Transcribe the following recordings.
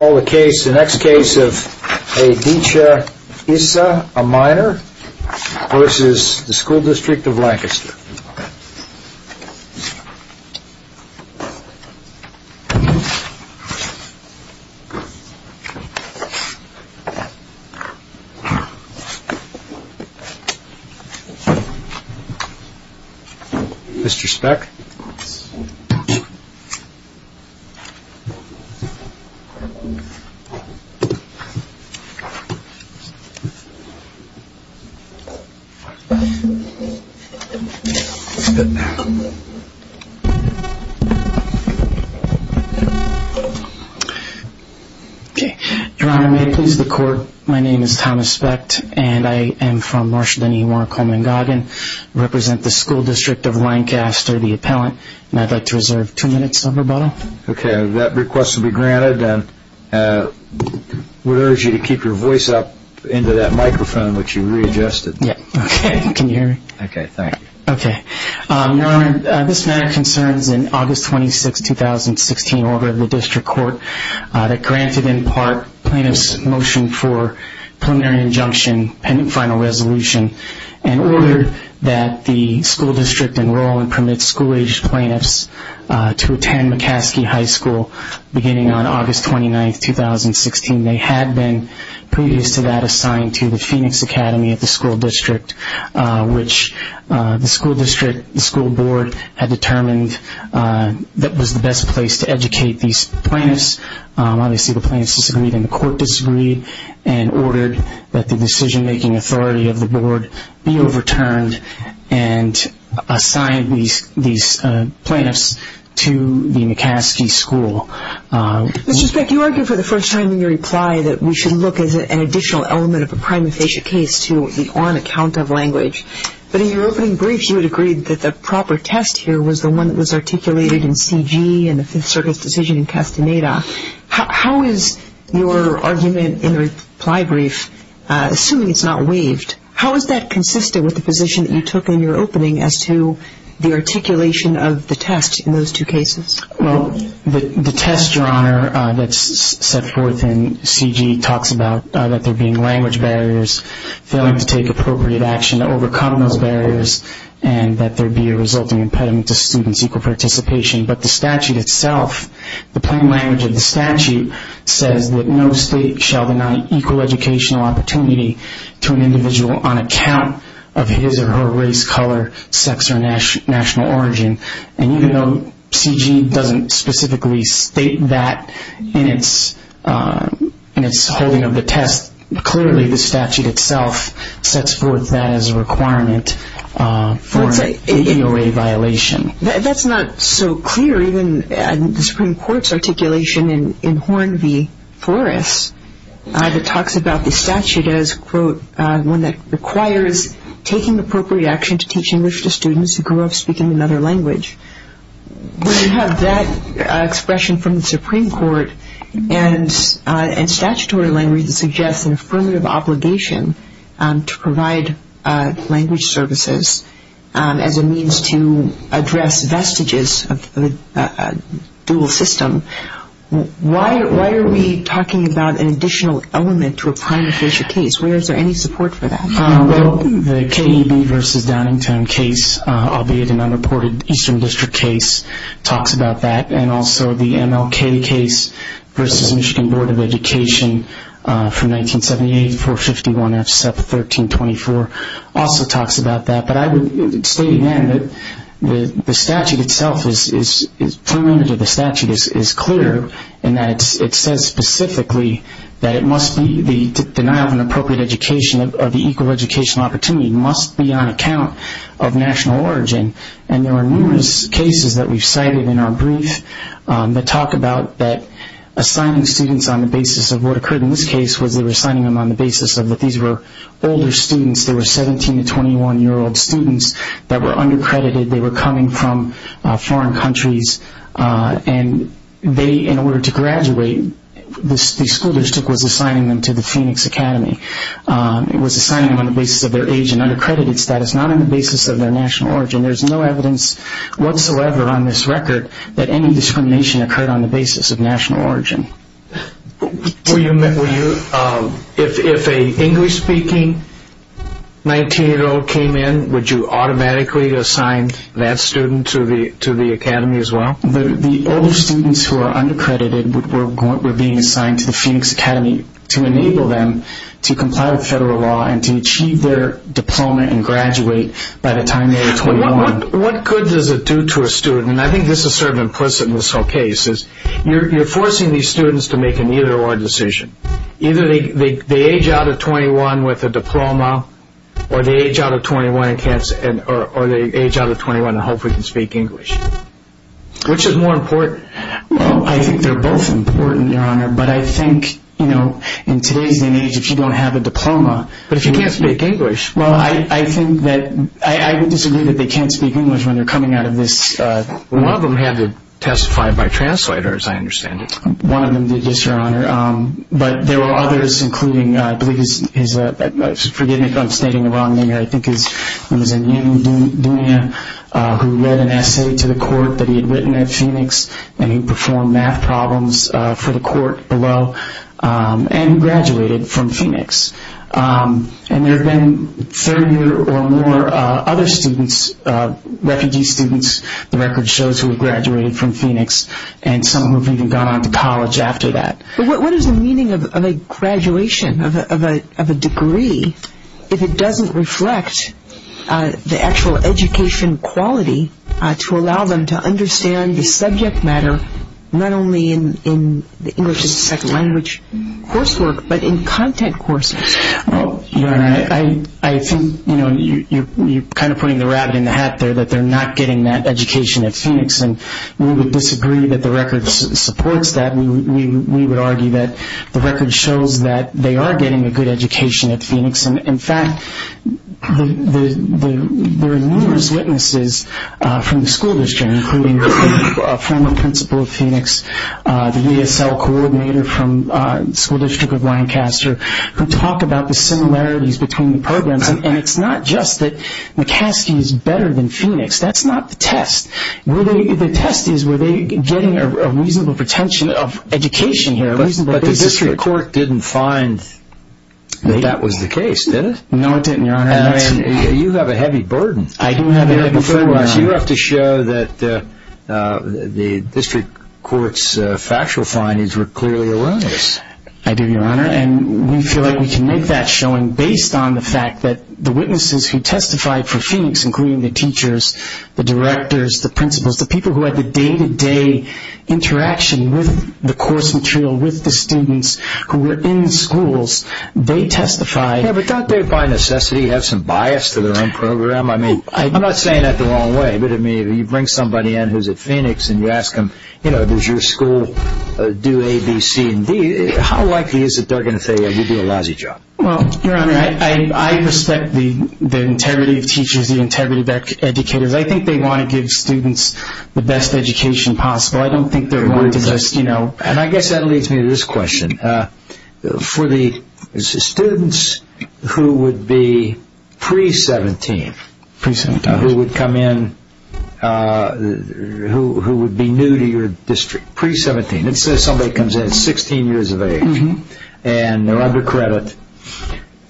I call the next case of Aditya Issa, a minor, v. School District of Lancaster. Mr. Speck. Your Honor, may I please the court? My name is Thomas Speck and I am from Marshden-E-Warren-Coleman-Goggin, represent the School District of Lancaster, the appellant, and I'd like to reserve two minutes of rebuttal. Okay, that request will be granted and would urge you to keep your voice up into that microphone which you readjusted. Okay, can you hear me? Okay, thank you. Okay. Your Honor, this matter concerns an August 26, 2016 order of the District Court that granted in part plaintiff's motion for preliminary injunction, pending final resolution, an order that the School District enroll and permit school-aged plaintiffs to attend McCaskey High School, beginning on August 29, 2016. They had been, previous to that, assigned to the Phoenix Academy at the School District, which the School District, the school board, had determined that was the best place to educate these plaintiffs. Obviously, the plaintiffs disagreed and the court disagreed and ordered that the decision-making authority of the board be overturned and assigned these plaintiffs to the McCaskey School. Mr. Speck, you argued for the first time in your reply that we should look as an additional element of a prima facie case to the on account of language, but in your opening brief you had agreed that the proper test here was the one that was articulated in C.G. and the Fifth Circuit's decision in Castaneda. How is your argument in the reply brief, assuming it's not waived, how is that consistent with the position that you took in your opening as to the articulation of the test in those two cases? Well, the test, Your Honor, that's set forth in C.G. talks about that there being language barriers, failing to take appropriate action to overcome those barriers, and that there be a resulting impediment to students' equal participation. But the statute itself, the plain language of the statute, says that no state shall deny equal educational opportunity to an individual on account of his or her race, color, sex, or national origin. And even though C.G. doesn't specifically state that in its holding of the test, clearly the statute itself sets forth that as a requirement for an AOA violation. That's not so clear even in the Supreme Court's articulation in Horn v. Forrest, that talks about the statute as, quote, one that requires taking appropriate action to teach English to students who grew up speaking another language. When you have that expression from the Supreme Court, and statutory language that suggests an affirmative obligation to provide language services as a means to address vestiges of the dual system, why are we talking about an additional element to a prime official case? Where is there any support for that? Well, the KEB v. Downingtown case, albeit an unreported Eastern District case, talks about that. And also the MLK case v. Michigan Board of Education from 1978, 451F, SEP 1324, also talks about that. But I would state again that the statute itself, the plain language of the statute is clear, and that it says specifically that it must be the denial of an appropriate education, of the equal educational opportunity, must be on account of national origin. And there are numerous cases that we've cited in our brief that talk about that assigning students on the basis of what occurred in this case, was they were assigning them on the basis that these were older students, they were 17 to 21-year-old students that were undercredited, they were coming from foreign countries. And they, in order to graduate, the school district was assigning them to the Phoenix Academy. It was assigning them on the basis of their age and undercredited status, not on the basis of their national origin. There's no evidence whatsoever on this record that any discrimination occurred on the basis of national origin. Were you, if an English-speaking 19-year-old came in, would you automatically assign that student to the academy as well? The older students who are undercredited were being assigned to the Phoenix Academy to enable them to comply with federal law and to achieve their diploma and graduate by the time they were 21. What good does it do to a student, and I think this is sort of implicit in this whole case, is you're forcing these students to make an either-or decision. Either they age out of 21 with a diploma, or they age out of 21 and hopefully can speak English. Which is more important? Well, I think they're both important, Your Honor, but I think, you know, in today's day and age, if you don't have a diploma... But if you can't speak English... Well, I think that, I would disagree that they can't speak English when they're coming out of this... Well, one of them had to testify by translator, as I understand it. One of them did, yes, Your Honor. But there were others, including, I believe his... Forgive me if I'm stating the wrong name here. I think his... It was a young man who read an essay to the court that he had written at Phoenix and he performed math problems for the court below and graduated from Phoenix. And there have been 30 or more other students, refugee students, the record shows, who have graduated from Phoenix, and some who have even gone on to college after that. But what is the meaning of a graduation, of a degree, if it doesn't reflect the actual education quality to allow them to understand the subject matter, not only in the English as a Second Language coursework, but in content courses? Well, Your Honor, I think, you know, you're kind of putting the rabbit in the hat there, that they're not getting that education at Phoenix. And we would disagree that the record supports that. We would argue that the record shows that they are getting a good education at Phoenix. And, in fact, there are numerous witnesses from the school district, including the former principal of Phoenix, the ESL coordinator from the School District of Lancaster, who talk about the similarities between the programs. And it's not just that McCaskey is better than Phoenix. That's not the test. The test is, were they getting a reasonable retention of education here? But the district court didn't find that that was the case, did it? No, it didn't, Your Honor. You have a heavy burden. I do have a heavy burden, Your Honor. You have to show that the district court's factual findings were clearly erroneous. I do, Your Honor. And we feel like we can make that showing based on the fact that the witnesses who testified for Phoenix, including the teachers, the directors, the principals, the people who had the day-to-day interaction with the course material, with the students who were in the schools, they testified. Yeah, but don't they, by necessity, have some bias to their own program? I mean, I'm not saying that the wrong way, but, I mean, you bring somebody in who's at Phoenix and you ask them, you know, does your school do A, B, C, and D? How likely is it they're going to say you do a lousy job? Well, Your Honor, I respect the integrity of teachers, the integrity of educators. I think they want to give students the best education possible. I don't think they're going to just, you know. And I guess that leads me to this question. For the students who would be pre-17, who would come in, who would be new to your district, pre-17, let's say somebody comes in at 16 years of age and they're under credit,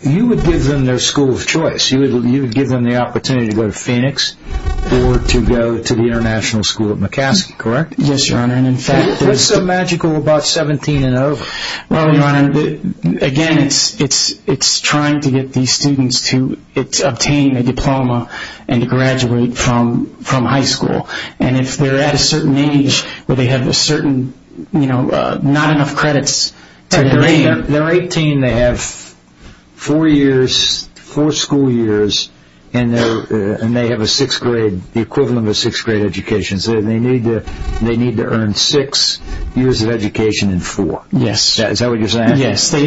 you would give them their school of choice. You would give them the opportunity to go to Phoenix or to go to the International School at McCaskill, correct? Yes, Your Honor, and in fact, there's... What's so magical about 17 and over? Well, Your Honor, again, it's trying to get these students to obtain a diploma and to graduate from high school. And if they're at a certain age where they have a certain, you know, not enough credits... They're 18, they have four years, four school years, and they have a sixth grade, the equivalent of a sixth grade education. So they need to earn six years of education in four. Yes. Is that what you're saying? Yes. The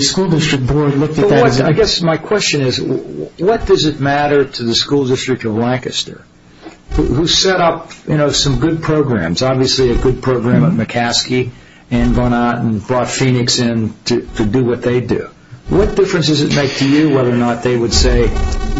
school district board looked at that... I guess my question is, what does it matter to the school district of Lancaster, who set up, you know, some good programs, obviously a good program at McCaskill and brought Phoenix in to do what they do. What difference does it make to you whether or not they would say,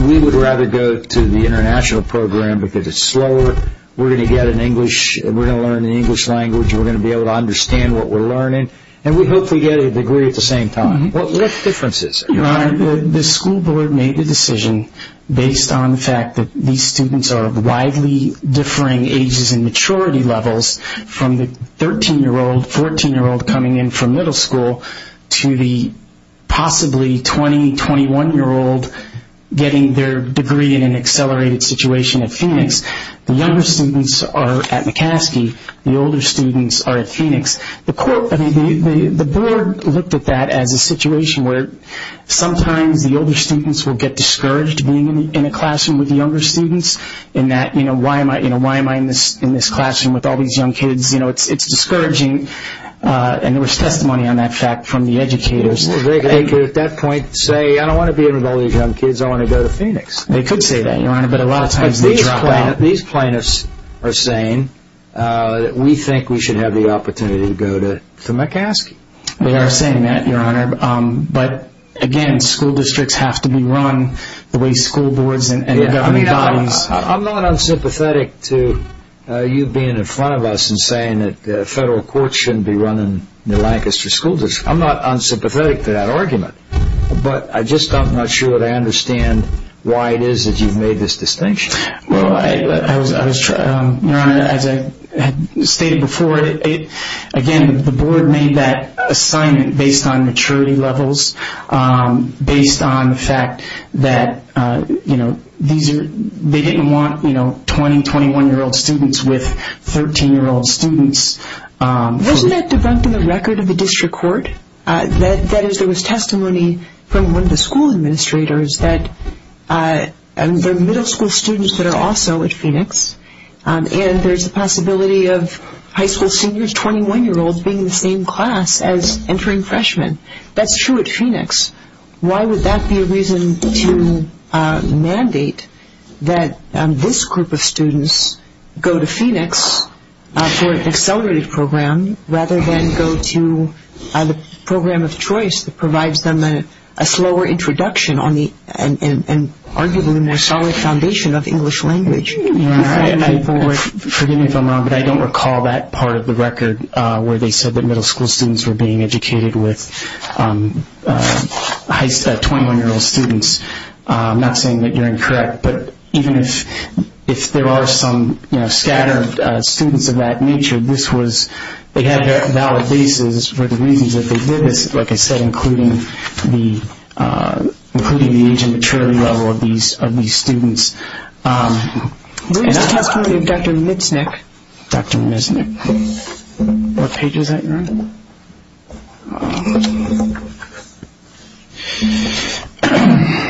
we would rather go to the international program because it's slower, we're going to get an English, we're going to learn an English language, we're going to be able to understand what we're learning, and we hopefully get a degree at the same time? What differences? Your Honor, the school board made the decision based on the fact that these students are widely differing ages and maturity levels from the 13-year-old, 14-year-old coming in from middle school to the possibly 20, 21-year-old getting their degree in an accelerated situation at Phoenix. The younger students are at McCaskill. The older students are at Phoenix. The board looked at that as a situation where sometimes the older students will get discouraged being in a classroom with the younger students in that, you know, why am I in this classroom with all these young kids? You know, it's discouraging. And there was testimony on that fact from the educators. They could at that point say, I don't want to be in with all these young kids, I want to go to Phoenix. They could say that, Your Honor, but a lot of times they drop out. These plaintiffs are saying that we think we should have the opportunity to go to McCaskill. They are saying that, Your Honor, but, again, school districts have to be run the way school boards and government bodies. I'm not unsympathetic to you being in front of us and saying that the federal courts shouldn't be running the Lancaster school district. I'm not unsympathetic to that argument, but I'm just not sure that I understand why it is that you've made this distinction. Well, Your Honor, as I stated before, again, the board made that assignment based on maturity levels, based on the fact that, you know, they didn't want 20, 21-year-old students with 13-year-old students. Wasn't that debunked in the record of the district court? That is, there was testimony from one of the school administrators that there are middle school students that are also at Phoenix, and there's a possibility of high school seniors, 21-year-olds, being in the same class as entering freshmen. That's true at Phoenix. Why would that be a reason to mandate that this group of students go to Phoenix for an accelerated program rather than go to the program of choice that provides them a slower introduction and arguably a more solid foundation of English language? Forgive me if I'm wrong, but I don't recall that part of the record where they said that middle school students were being educated with 21-year-old students. I'm not saying that you're incorrect, but even if there are some scattered students of that nature, they had their valid basis for the reasons that they did this, like I said, including the age and maturity level of these students. Where is the testimony of Dr. Mitsnick? Dr. Mitsnick. What page is that, Your Honor?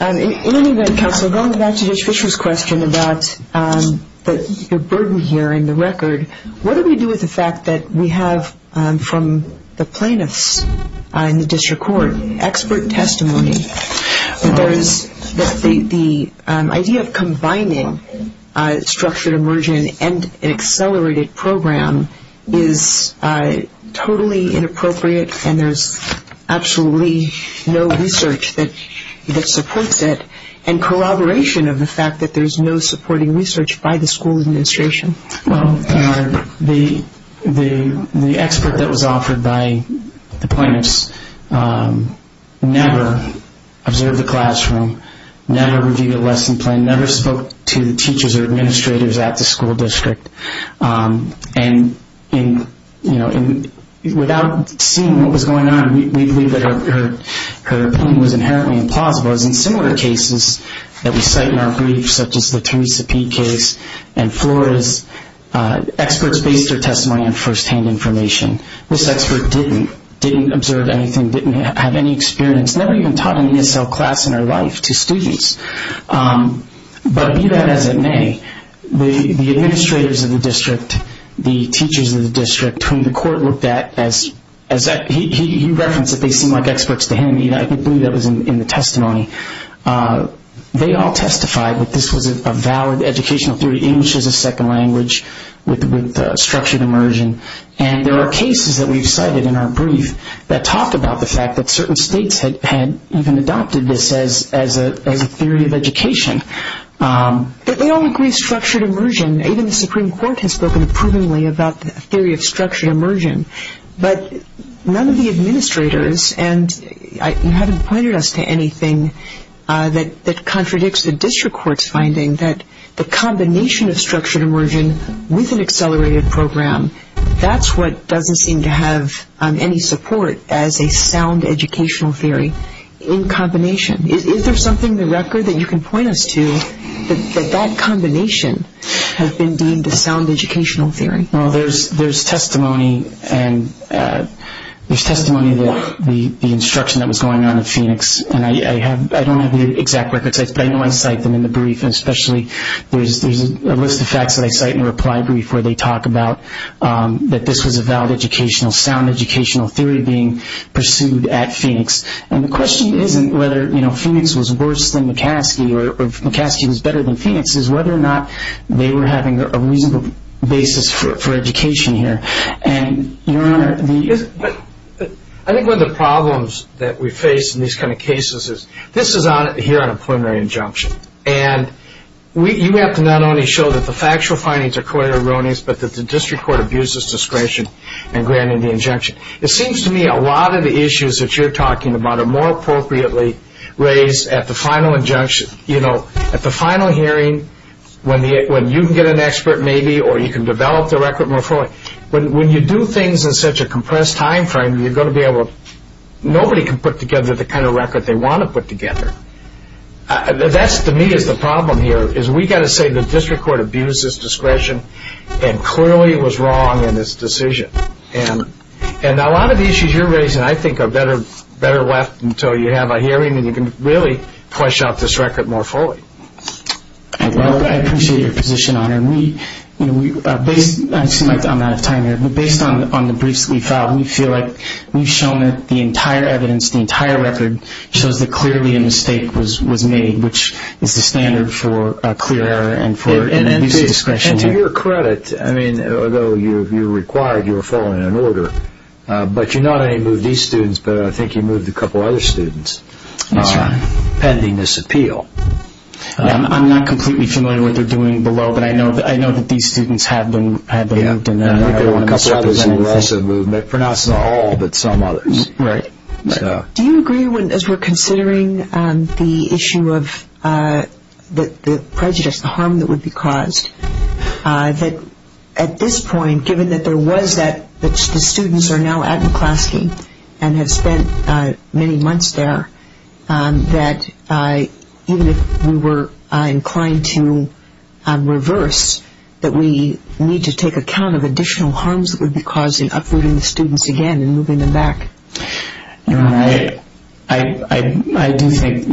In any event, counsel, going back to Judge Fischer's question about the burden here in the record, what do we do with the fact that we have from the plaintiffs in the district court expert testimony that the idea of combining structured immersion and an accelerated program is totally inappropriate and there's absolutely no research that supports it and corroboration of the fact that there's no supporting research by the school administration? Well, Your Honor, the expert that was offered by the plaintiffs never observed the classroom, never reviewed a lesson plan, never spoke to the teachers or administrators at the school district. And without seeing what was going on, we believe that her opinion was inherently implausible. As in similar cases that we cite in our briefs, such as the Teresa P. case and Flora's, experts based their testimony on firsthand information. This expert didn't, didn't observe anything, didn't have any experience, never even taught an ESL class in her life to students. But be that as it may, the administrators of the district, the teachers of the district whom the court looked at as, he referenced that they seemed like experts to him. I believe that was in the testimony. They all testified that this was a valid educational theory, English as a second language with structured immersion. And there are cases that we've cited in our brief that talk about the fact that certain states had even adopted this as a theory of education. But they all agree structured immersion, even the Supreme Court has spoken approvingly about the theory of structured immersion. But none of the administrators, and you haven't pointed us to anything that contradicts the district court's finding, that the combination of structured immersion with an accelerated program, that's what doesn't seem to have any support as a sound educational theory in combination. Is there something in the record that you can point us to that that combination has been deemed a sound educational theory? Well, there's testimony, and there's testimony of the instruction that was going on in Phoenix. And I don't have the exact records, but I know I cite them in the brief, and especially there's a list of facts that I cite in a reply brief where they talk about that this was a valid educational, sound educational theory being pursued at Phoenix. And the question isn't whether Phoenix was worse than McCaskey or if McCaskey was better than Phoenix, it's whether or not they were having a reasonable basis for education here. And, Your Honor, the... I think one of the problems that we face in these kind of cases is, this is here on a preliminary injunction, and you have to not only show that the factual findings are quite erroneous, but that the district court abuses discretion in granting the injunction. It seems to me a lot of the issues that you're talking about are more appropriately raised at the final injunction. You know, at the final hearing, when you can get an expert maybe, or you can develop the record more fully. When you do things in such a compressed time frame, you're going to be able to... Nobody can put together the kind of record they want to put together. That, to me, is the problem here, is we've got to say the district court abused its discretion and clearly was wrong in its decision. And a lot of the issues you're raising, I think, are better left until you have a hearing and you can really flesh out this record more fully. Well, I appreciate your position on it. I seem like I'm out of time here, but based on the briefs we filed, we feel like we've shown that the entire evidence, the entire record, shows that clearly a mistake was made, which is the standard for clear error and for an abuse of discretion. And to your credit, I mean, although you were required, you were following an order, but you not only moved these students, but I think you moved a couple other students. That's right. Pending this appeal. I'm not completely familiar with what they're doing below, but I know that these students had them moved. I think there were a couple others who were also moved. Not all, but some others. Right. Do you agree, as we're considering the issue of the prejudice, the harm that would be caused, that at this point, given that there was that, that the students are now at McClaskey and have spent many months there, that even if we were inclined to reverse, that we need to take account of additional harms that would be causing uprooting the students again and moving them back. I do think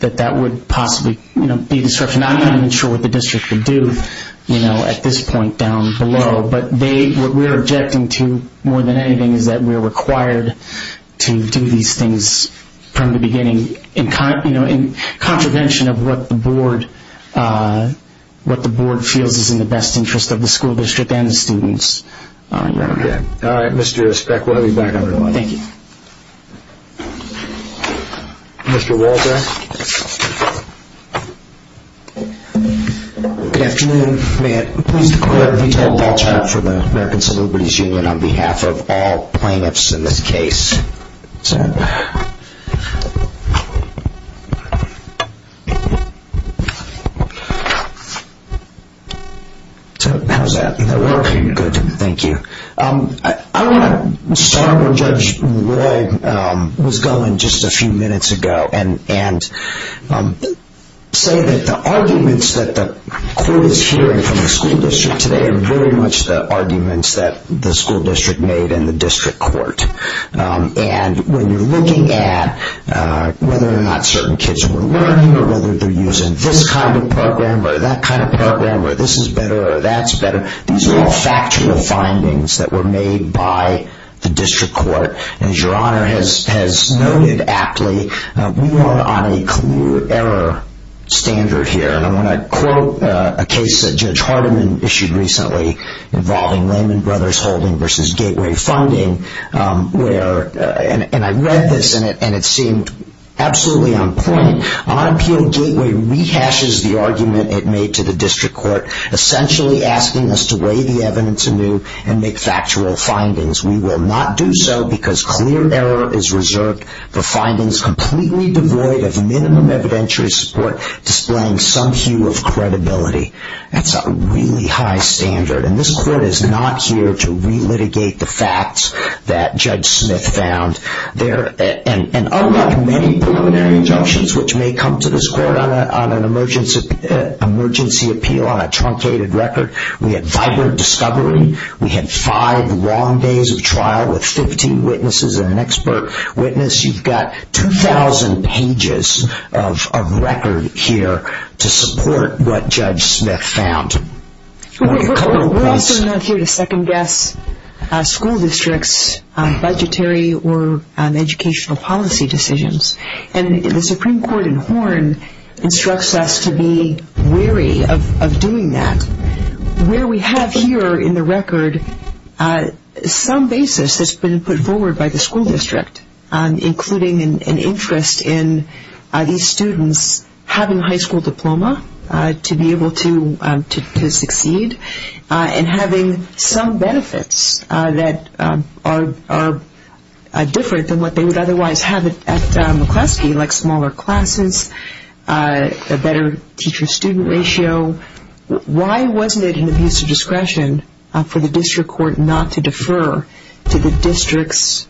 that that would possibly be a disruption. I'm not even sure what the district would do at this point down below, but what we're objecting to more than anything is that we're required to do these things from the beginning in contravention of what the board feels is in the best interest of the school district and the students. All right, Mr. Speck, we'll have you back on the line. Thank you. Mr. Walter. Good afternoon. May it please the court, if you tell Walter for the American Civil Liberties Union on behalf of all plaintiffs in this case. How's that? Good. Thank you. I want to start where Judge Roy was going just a few minutes ago and say that the arguments that the court is hearing from the school district today are very much the arguments that the school district made in the district court. And when you're looking at whether or not certain kids were learning or whether they're using this kind of program or that kind of program or this is better or that's better, these are all factual findings that were made by the district court. And as your Honor has noted aptly, we are on a clear error standard here. And I want to quote a case that Judge Hardiman issued recently involving Lehman Brothers Holding versus Gateway Funding, and I read this and it seemed absolutely on point. On appeal, Gateway rehashes the argument it made to the district court, essentially asking us to weigh the evidence anew and make factual findings. We will not do so because clear error is reserved for findings completely devoid of minimum evidentiary support displaying some hue of credibility. That's a really high standard. And this court is not here to relitigate the facts that Judge Smith found. And unlike many preliminary injunctions which may come to this court on an emergency appeal on a truncated record, we had vibrant discovery, we had five long days of trial with 15 witnesses and an expert witness. You've got 2,000 pages of record here to support what Judge Smith found. We're also not here to second guess school districts' budgetary or educational policy decisions. And the Supreme Court in Horn instructs us to be weary of doing that. Where we have here in the record some basis that's been put forward by the school district, including an interest in these students having a high school diploma to be able to succeed and having some benefits that are different than what they would otherwise have at McCleskey, like smaller classes, a better teacher-student ratio. So why wasn't it an abuse of discretion for the district court not to defer to the district's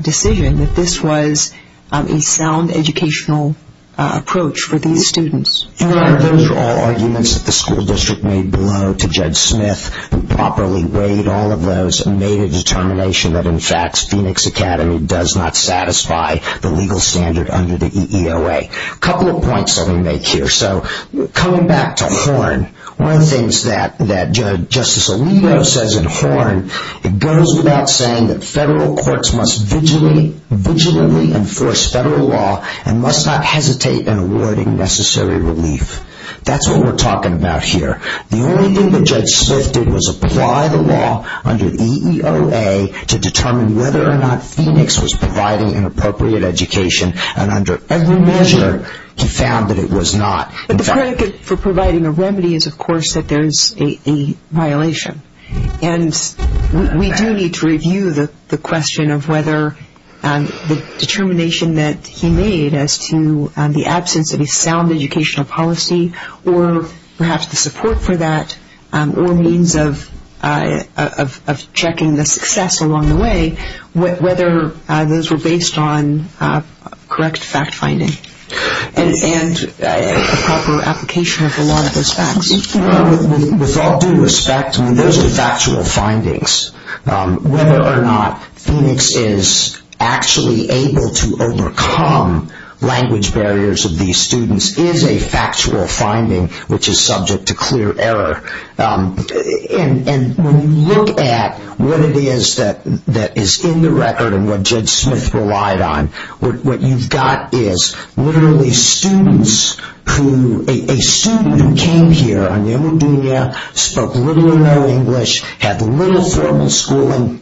decision that this was a sound educational approach for these students? Those are all arguments that the school district made below to Judge Smith who properly weighed all of those and made a determination that, in fact, Phoenix Academy does not satisfy the legal standard under the EEOA. A couple of points let me make here. Coming back to Horn, one of the things that Justice Alito says in Horn, it goes without saying that federal courts must vigilantly enforce federal law and must not hesitate in awarding necessary relief. That's what we're talking about here. The only thing that Judge Smith did was apply the law under the EEOA to determine whether or not Phoenix was providing an appropriate education and under every measure he found that it was not. But the predicate for providing a remedy is, of course, that there's a violation. And we do need to review the question of whether the determination that he made as to the absence of a sound educational policy or perhaps the support for that or means of checking the success along the way, whether those were based on correct fact-finding and a proper application of the law of those facts. With all due respect, those are factual findings. Whether or not Phoenix is actually able to overcome language barriers of these students is a factual finding which is subject to clear error. And when you look at what it is that is in the record and what Judge Smith relied on, what you've got is literally students who, a student who came here, spoke little or no English, had little formal schooling,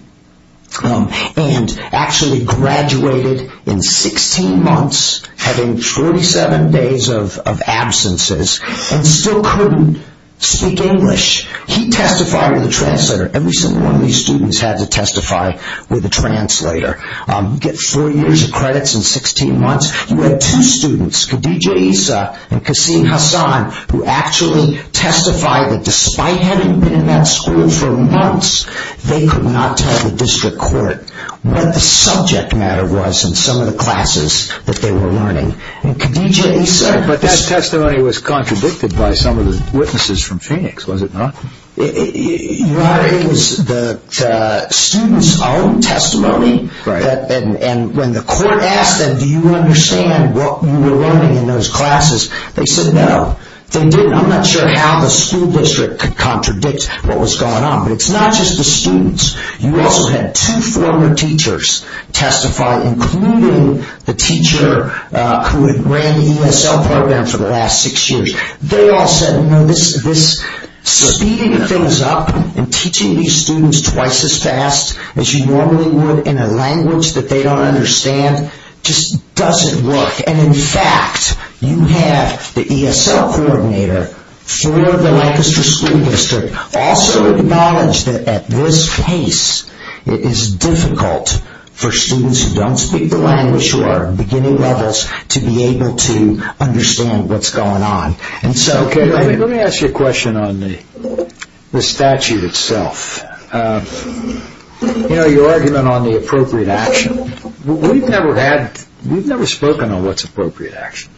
and actually graduated in 16 months having 47 days of absences and still couldn't speak English. He testified with a translator. Every single one of these students had to testify with a translator. You get four years of credits in 16 months. You had two students, Khadijah Issa and Kaseem Hassan, who actually testified that despite having been in that school for months, they could not tell the district court what the subject matter was in some of the classes that they were learning. But that testimony was contradicted by some of the witnesses from Phoenix, was it not? It was the students' own testimony. And when the court asked them, do you understand what you were learning in those classes, they said no. They didn't. I'm not sure how the school district could contradict what was going on. But it's not just the students. You also had two former teachers testify, including the teacher who had ran the ESL program for the last six years. They all said, you know, this speeding things up and teaching these students twice as fast as you normally would in a language that they don't understand just doesn't work. And, in fact, you have the ESL coordinator for the Lancaster School District also acknowledge that at this pace, it is difficult for students who don't speak the language who are beginning levels to be able to understand what's going on. Let me ask you a question on the statute itself. You know, your argument on the appropriate action, we've never spoken on what's appropriate action.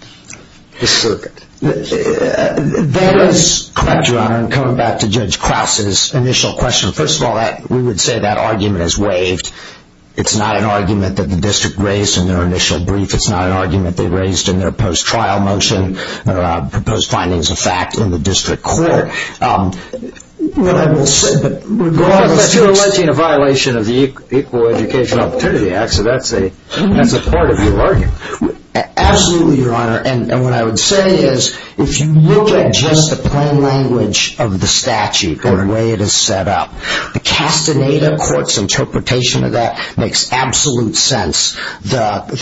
The circuit. That is correct, Your Honor. And coming back to Judge Krause's initial question, first of all, we would say that argument is waived. It's not an argument that the district raised in their initial brief. It's not an argument they raised in their post-trial motion or proposed findings of fact in the district court. But if you're alleging a violation of the Equal Education Opportunity Act, so that's a part of your argument. Absolutely, Your Honor. And what I would say is if you look at just the plain language of the statute or the way it is set up, the Castaneda Court's interpretation of that makes absolute sense. The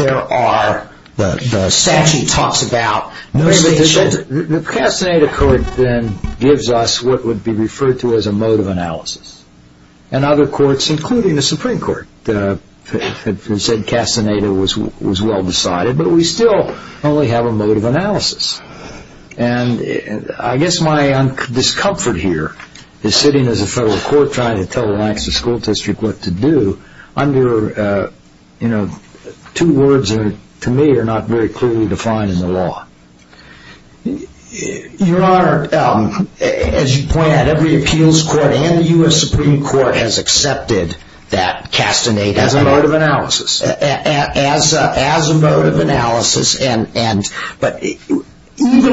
statute talks about no station. The Castaneda Court then gives us what would be referred to as a mode of analysis. And other courts, including the Supreme Court, have said Castaneda was well decided. But we still only have a mode of analysis. And I guess my discomfort here is sitting as a federal court trying to tell the Lancaster School District what to do under two words that to me are not very clearly defined in the law. Your Honor, as you point out, every appeals court and the U.S. Supreme Court has accepted that Castaneda As a mode of analysis. As a mode of analysis. But even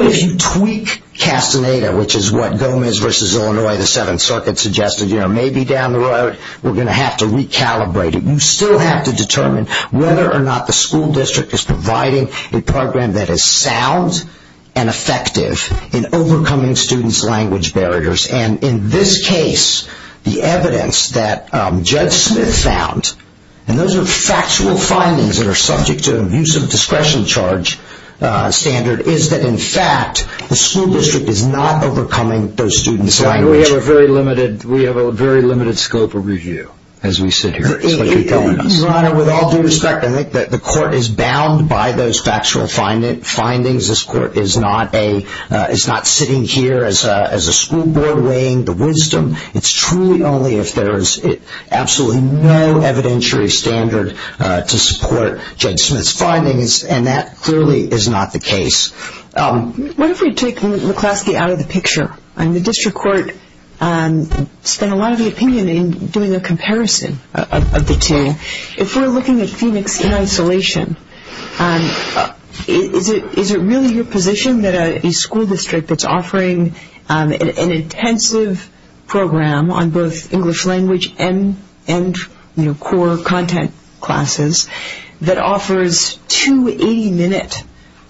if you tweak Castaneda, which is what Gomez v. Illinois, the Seventh Circuit, suggested, maybe down the road we're going to have to recalibrate it. You still have to determine whether or not the school district is providing a program that is sound and effective in overcoming students' language barriers and in this case, the evidence that Judge Smith found, and those are factual findings that are subject to an abusive discretion charge standard, is that in fact the school district is not overcoming those students' language. We have a very limited scope of review as we sit here. Your Honor, with all due respect, I think the court is bound by those factual findings. This court is not sitting here as a school board weighing the wisdom. It's truly only if there is absolutely no evidentiary standard to support Judge Smith's findings, and that clearly is not the case. What if we take McCloskey out of the picture? The district court spent a lot of the opinion in doing a comparison of the two. If we're looking at Phoenix in isolation, is it really your position that a school district that's offering an intensive program on both English language and core content classes that offers two 80-minute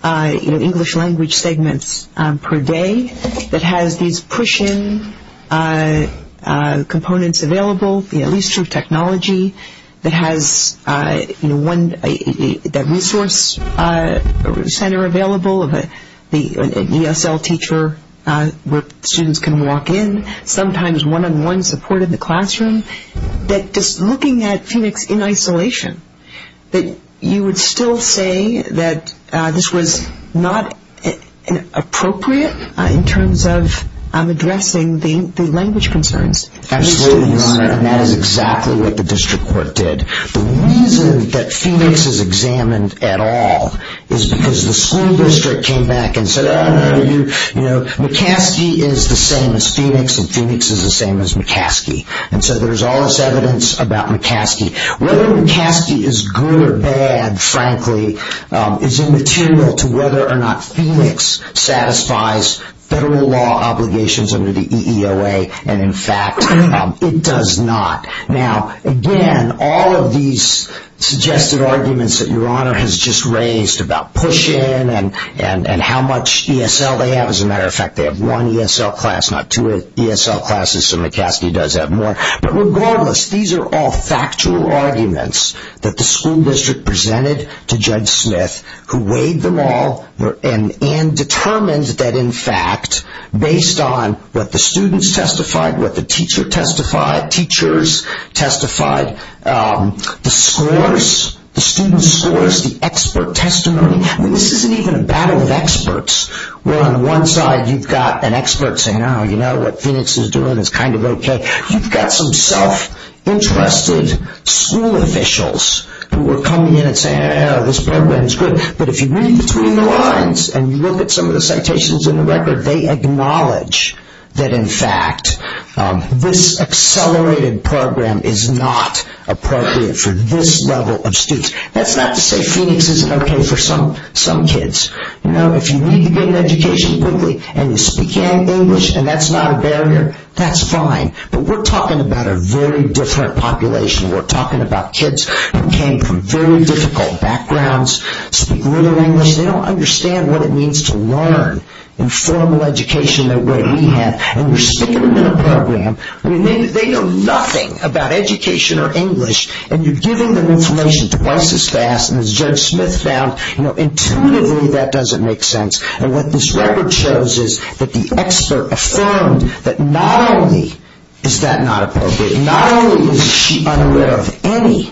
English language segments per day that has these push-in components available, at least through technology, that has that resource center available, an ESL teacher where students can walk in, sometimes one-on-one support in the classroom, that just looking at Phoenix in isolation, that you would still say that this was not appropriate in terms of addressing the language concerns? Absolutely not, and that is exactly what the district court did. The reason that Phoenix is examined at all is because the school district came back and said, McCloskey is the same as Phoenix and Phoenix is the same as McCloskey. So there's all this evidence about McCloskey. Whether McCloskey is good or bad, frankly, is immaterial to whether or not Phoenix satisfies federal law obligations under the EEOA and, in fact, it does not. Now, again, all of these suggested arguments that Your Honor has just raised about push-in and how much ESL they have, as a matter of fact, they have one ESL class, not two ESL classes, so McCloskey does have more. But regardless, these are all factual arguments that the school district presented to Judge Smith who weighed them all and determined that, in fact, based on what the students testified, what the teacher testified, teachers testified, the scores, the student scores, the expert testimony, this isn't even a battle of experts where on one side you've got an expert saying, oh, you know, what Phoenix is doing is kind of okay. You've got some self-interested school officials who are coming in and saying, yeah, this program is good, but if you read between the lines and you look at some of the citations in the record, they acknowledge that, in fact, this accelerated program is not appropriate for this level of students. That's not to say Phoenix isn't okay for some kids. If you need to get an education quickly and you speak English and that's not a barrier, that's fine. But we're talking about a very different population. We're talking about kids who came from very difficult backgrounds, speak little English. They don't understand what it means to learn in formal education the way we have. And you're speaking in a program where they know nothing about education or English and you're giving them information twice as fast. And as Judge Smith found, you know, intuitively that doesn't make sense. And what this record shows is that the expert affirmed that not only is that not appropriate, not only is she unaware of any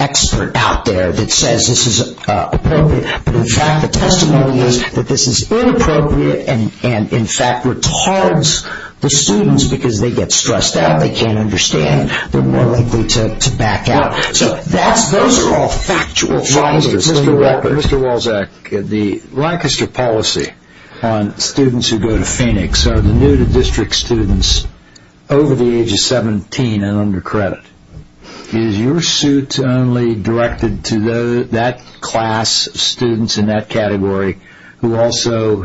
expert out there that says this is appropriate, but in fact the testimony is that this is inappropriate and in fact retards the students because they get stressed out, they can't understand, they're more likely to back out. So those are all factual findings. Mr. Walczak, the Lancaster policy on students who go to Phoenix are the new to district students over the age of 17 and under credit. Is your suit only directed to that class of students in that category who also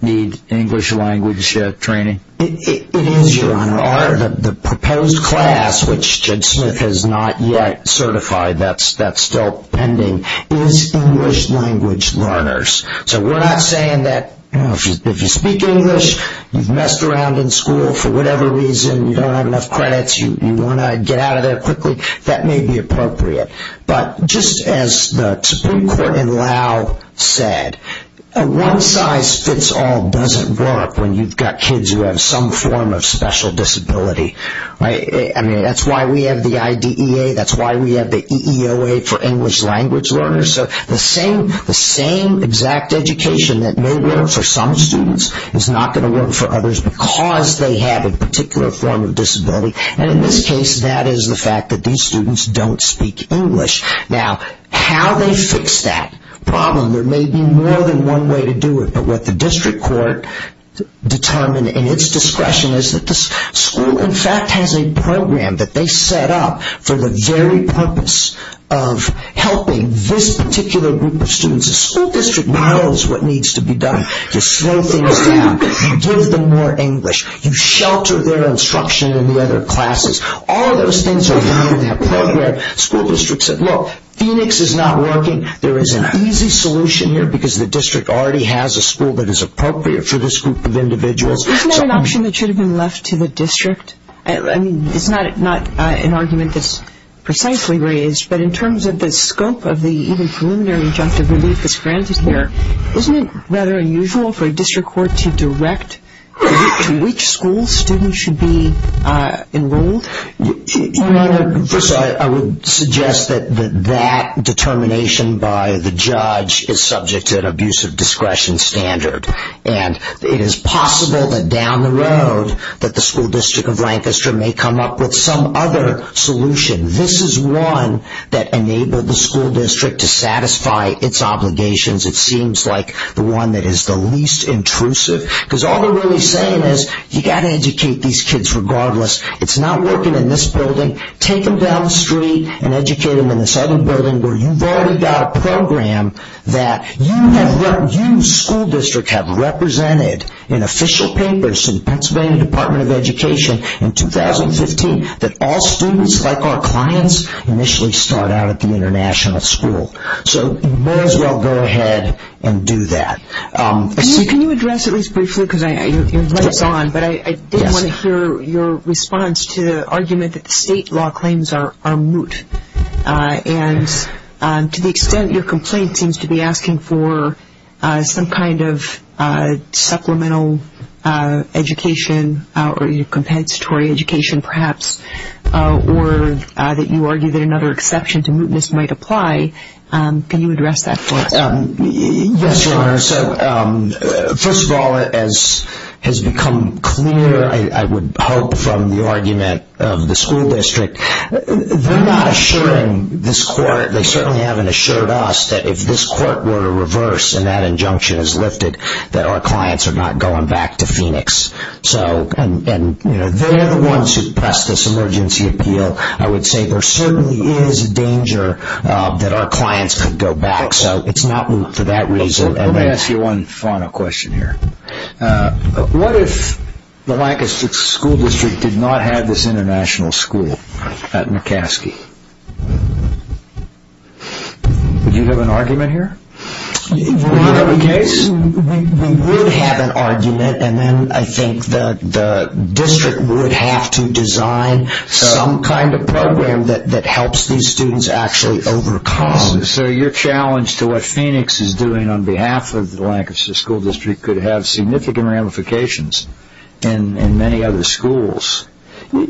need English language training? It is, Your Honor. The proposed class, which Judge Smith has not yet certified, that's still pending, is English language learners. So we're not saying that if you speak English, you've messed around in school for whatever reason, you don't have enough credits, you want to get out of there quickly, that may be appropriate. But just as the Supreme Court in Laos said, a one-size-fits-all doesn't work when you've got kids who have some form of special disability. I mean, that's why we have the IDEA, that's why we have the EEOA for English language learners. So the same exact education that may work for some students is not going to work for others because they have a particular form of disability. And in this case, that is the fact that these students don't speak English. Now, how they fix that problem, there may be more than one way to do it. But what the district court determined in its discretion is that the school, in fact, has a program that they set up for the very purpose of helping this particular group of students. The school district knows what needs to be done. You slow things down, you give them more English, you shelter their instruction in the other classes. All those things are part of that program. The school district said, look, Phoenix is not working, there is an easy solution here because the district already has a school that is appropriate for this group of individuals. Isn't that an option that should have been left to the district? I mean, it's not an argument that's precisely raised, but in terms of the scope of the even preliminary injunctive relief that's granted here, isn't it rather unusual for a district court to direct to which school students should be enrolled? First, I would suggest that that determination by the judge is subject to an abusive discretion standard. And it is possible that down the road that the school district of Lancaster may come up with some other solution. This is one that enabled the school district to satisfy its obligations. It seems like the one that is the least intrusive. Because all they're really saying is you've got to educate these kids regardless. It's not working in this building. Take them down the street and educate them in this other building where you've already got a program that you school district have represented in official papers in the Pennsylvania Department of Education in 2015 that all students, like our clients, initially start out at the international school. So you may as well go ahead and do that. Can you address at least briefly, because your light is on, but I did want to hear your response to the argument that the state law claims are moot. And to the extent your complaint seems to be asking for some kind of supplemental education or compensatory education perhaps, or that you argue that another exception to mootness might apply, can you address that for us? Yes, Your Honor. First of all, as has become clear, I would hope, from the argument of the school district, they're not assuring this court, they certainly haven't assured us that if this court were to reverse and that injunction is lifted, that our clients are not going back to Phoenix. And they're the ones who pressed this emergency appeal. I would say there certainly is a danger that our clients could go back. So it's not moot for that reason. Let me ask you one final question here. What if the Lancaster School District did not have this international school at McCaskey? Would you have an argument here? Would that be the case? We would have an argument, and then I think the district would have to design some kind of program that helps these students actually overcome. So your challenge to what Phoenix is doing on behalf of the Lancaster School District could have significant ramifications in many other schools. Your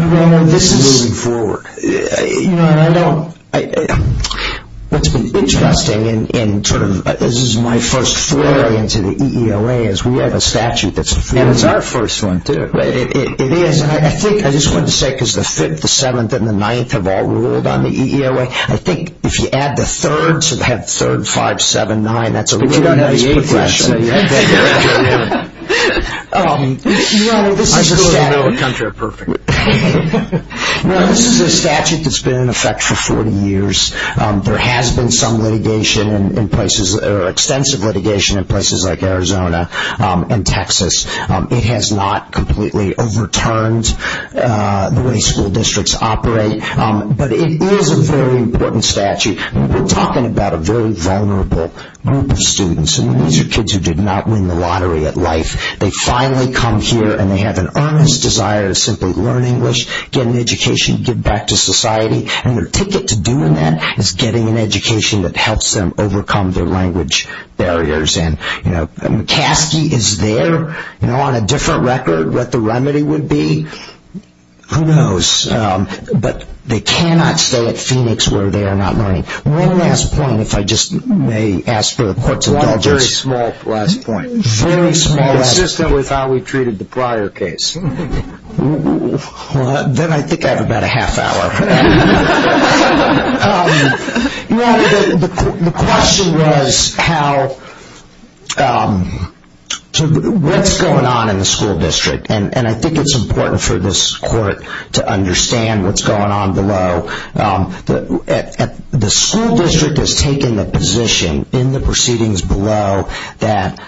Honor, this is... Moving forward. Your Honor, I don't... What's been interesting in sort of... This is my first flurry into the EEOA is we have a statute that's... And it's our first one, too. It is, and I think... I just wanted to say because the 5th, the 7th, and the 9th have all ruled on the EEOA. I think if you add the 3rd, so they have 3rd, 5th, 7th, 9th... But you don't have the 8th, do you? Your Honor, this is a statute that's been in effect for 40 years. There has been some litigation in places, or extensive litigation in places like Arizona and Texas. It has not completely overturned the way school districts operate, but it is a very important statute. We're talking about a very vulnerable group of students, and these are kids who did not win the lottery at life. They finally come here, and they have an earnest desire to simply learn English, get an education, give back to society, and their ticket to doing that is getting an education that helps them overcome their language barriers. And, you know, McCaskey is there. You know, on a different record, what the remedy would be, who knows? But they cannot stay at Phoenix where they are not learning. One last point, if I just may ask for the Court's indulgence. One very small last point. Very small last point. Consistent with how we treated the prior case. Then I think I have about a half hour. The question was what's going on in the school district, and I think it's important for this Court to understand what's going on below. The school district has taken a position in the proceedings below that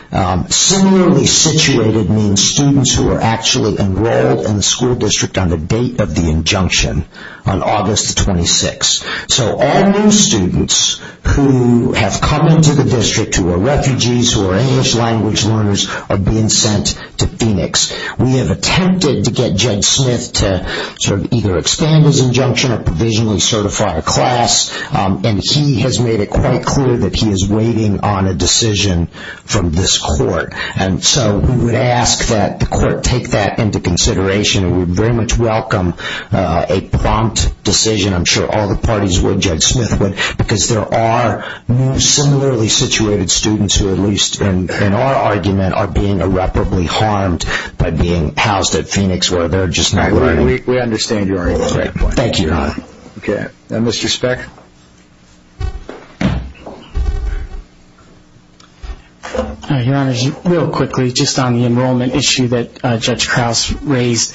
similarly situated means students who are actually enrolled in the school district on the date of the injunction, on August 26. So all new students who have come into the district who are refugees, who are English language learners, are being sent to Phoenix. We have attempted to get Jed Smith to sort of either expand his injunction or provisionally certify a class, and he has made it quite clear that he is waiting on a decision from this Court. And so we would ask that the Court take that into consideration. We would very much welcome a prompt decision. I'm sure all the parties would, Jed Smith would, because there are similarly situated students who, at least in our argument, are being irreparably harmed by being housed at Phoenix where they're just not living. We understand your point. Thank you, Your Honor. Okay. Mr. Speck. Your Honor, real quickly, just on the enrollment issue that Judge Krause raised.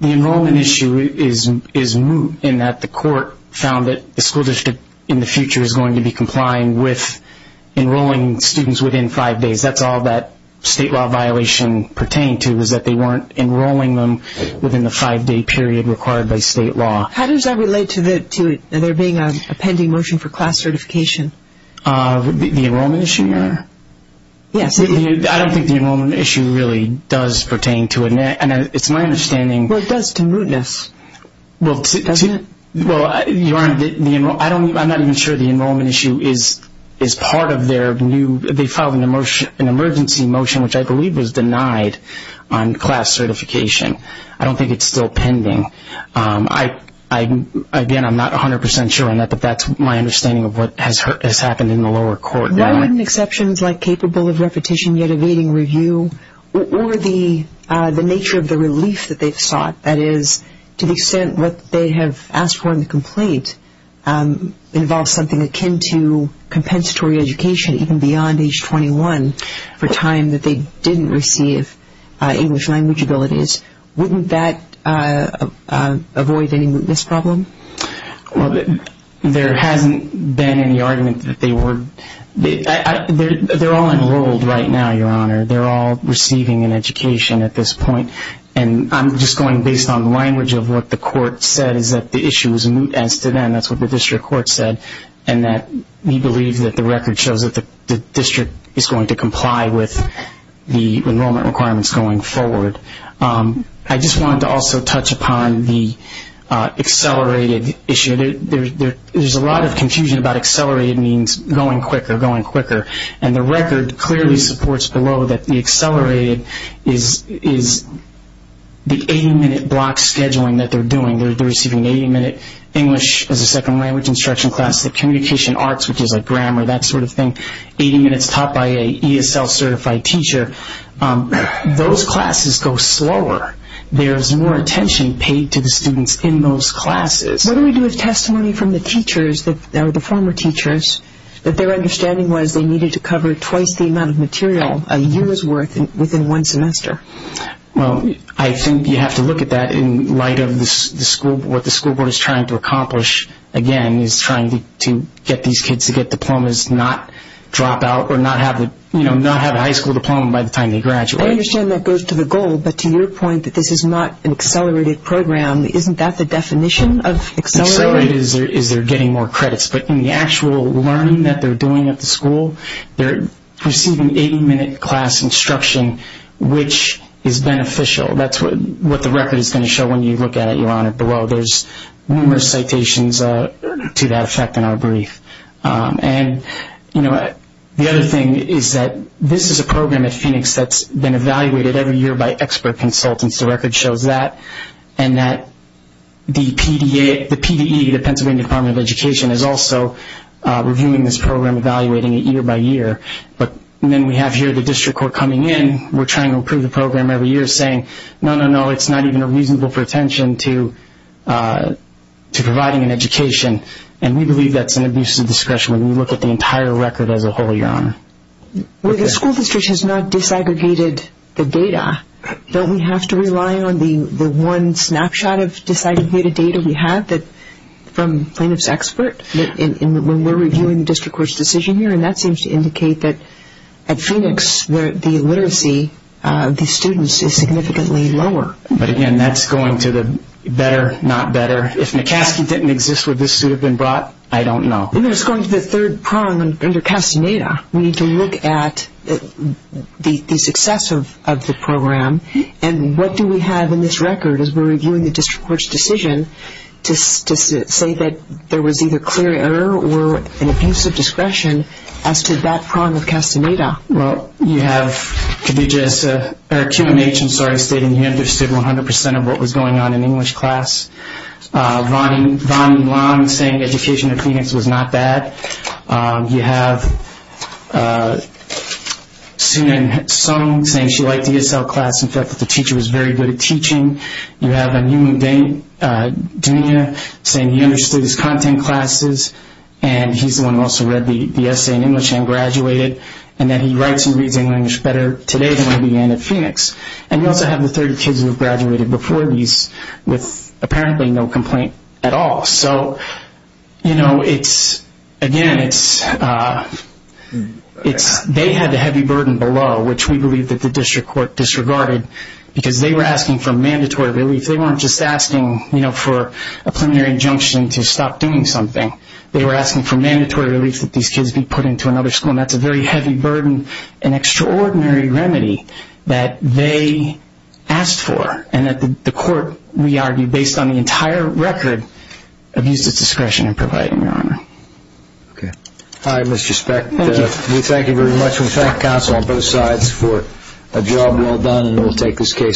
The enrollment issue is new in that the Court found that the school district in the future is going to be complying with enrolling students within five days. That's all that state law violation pertained to is that they weren't enrolling them within the five-day period required by state law. How does that relate to there being a pending motion for class certification? The enrollment issue, Your Honor? Yes. I don't think the enrollment issue really does pertain to it. It's my understanding. Well, it does to mootness, doesn't it? Well, Your Honor, I'm not even sure the enrollment issue is part of their new they filed an emergency motion which I believe was denied on class certification. I don't think it's still pending. Again, I'm not 100 percent sure on that, but that's my understanding of what has happened in the lower court. Why wouldn't exceptions like capable of repetition yet evading review or the nature of the relief that they've sought, that is to the extent what they have asked for in the complaint involves something akin to compensatory education even beyond age 21 for time that they didn't receive English language abilities, wouldn't that avoid any mootness problem? Well, there hasn't been any argument that they were they're all enrolled right now, Your Honor. They're all receiving an education at this point, and I'm just going based on the language of what the court said is that the issue is moot as to them. That's what the district court said, and that we believe that the record shows that the district is going to comply with the enrollment requirements going forward. I just wanted to also touch upon the accelerated issue. There's a lot of confusion about accelerated means going quicker, going quicker, and the record clearly supports below that the accelerated is the 80-minute block scheduling that they're doing. They're receiving an 80-minute English as a second language instruction class, the communication arts, which is like grammar, that sort of thing, 80 minutes taught by an ESL-certified teacher. Those classes go slower. There's more attention paid to the students in those classes. What do we do with testimony from the teachers, the former teachers, that their understanding was they needed to cover twice the amount of material a year's worth within one semester? Well, I think you have to look at that in light of what the school board is trying to accomplish, again, is trying to get these kids to get diplomas, not drop out or not have a high school diploma by the time they graduate. I understand that goes to the goal, but to your point that this is not an accelerated program, isn't that the definition of accelerated? Accelerated is they're getting more credits. But in the actual learning that they're doing at the school, they're receiving 80-minute class instruction, which is beneficial. That's what the record is going to show when you look at it, Your Honor, below. There's numerous citations to that effect in our brief. And, you know, the other thing is that this is a program at Phoenix that's been evaluated every year by expert consultants. The record shows that. And that the PDE, the Pennsylvania Department of Education, is also reviewing this program, evaluating it year by year. But then we have here the district court coming in. We're trying to approve the program every year saying, no, no, no, it's not even reasonable for attention to providing an education. And we believe that's an abuse of discretion when we look at the entire record as a whole, Your Honor. Well, the school district has not disaggregated the data. Don't we have to rely on the one snapshot of disaggregated data we have from plaintiff's expert when we're reviewing the district court's decision here? And that seems to indicate that at Phoenix, the literacy of the students is significantly lower. But, again, that's going to the better, not better. If McCaskey didn't exist, would this suit have been brought? I don't know. No, it's going to the third prong under Castaneda. We need to look at the success of the program. And what do we have in this record as we're reviewing the district court's decision to say that there was either clear error or an abuse of discretion as to that prong of Castaneda? Well, you have to do just a QMH, I'm sorry, stating he understood 100% of what was going on in English class. Vonnie Long saying education at Phoenix was not bad. You have Sunan Song saying she liked the ESL class and felt that the teacher was very good at teaching. You have Anumu Dunia saying he understood his content classes, and he's the one who also read the essay in English and graduated, and that he writes and reads English better today than when he began at Phoenix. And you also have the 30 kids who have graduated before these with apparently no complaint at all. So, you know, again, they had the heavy burden below, which we believe that the district court disregarded because they were asking for mandatory relief. They weren't just asking for a preliminary injunction to stop doing something. They were asking for mandatory relief that these kids be put into another school, and that's a very heavy burden, an extraordinary remedy that they asked for, and that the court, we argue, based on the entire record, abused its discretion in providing, Your Honor. Okay. All right, Mr. Speck. Thank you. We thank you very much, and we thank the counsel on both sides for a job well done, and we'll take this case on.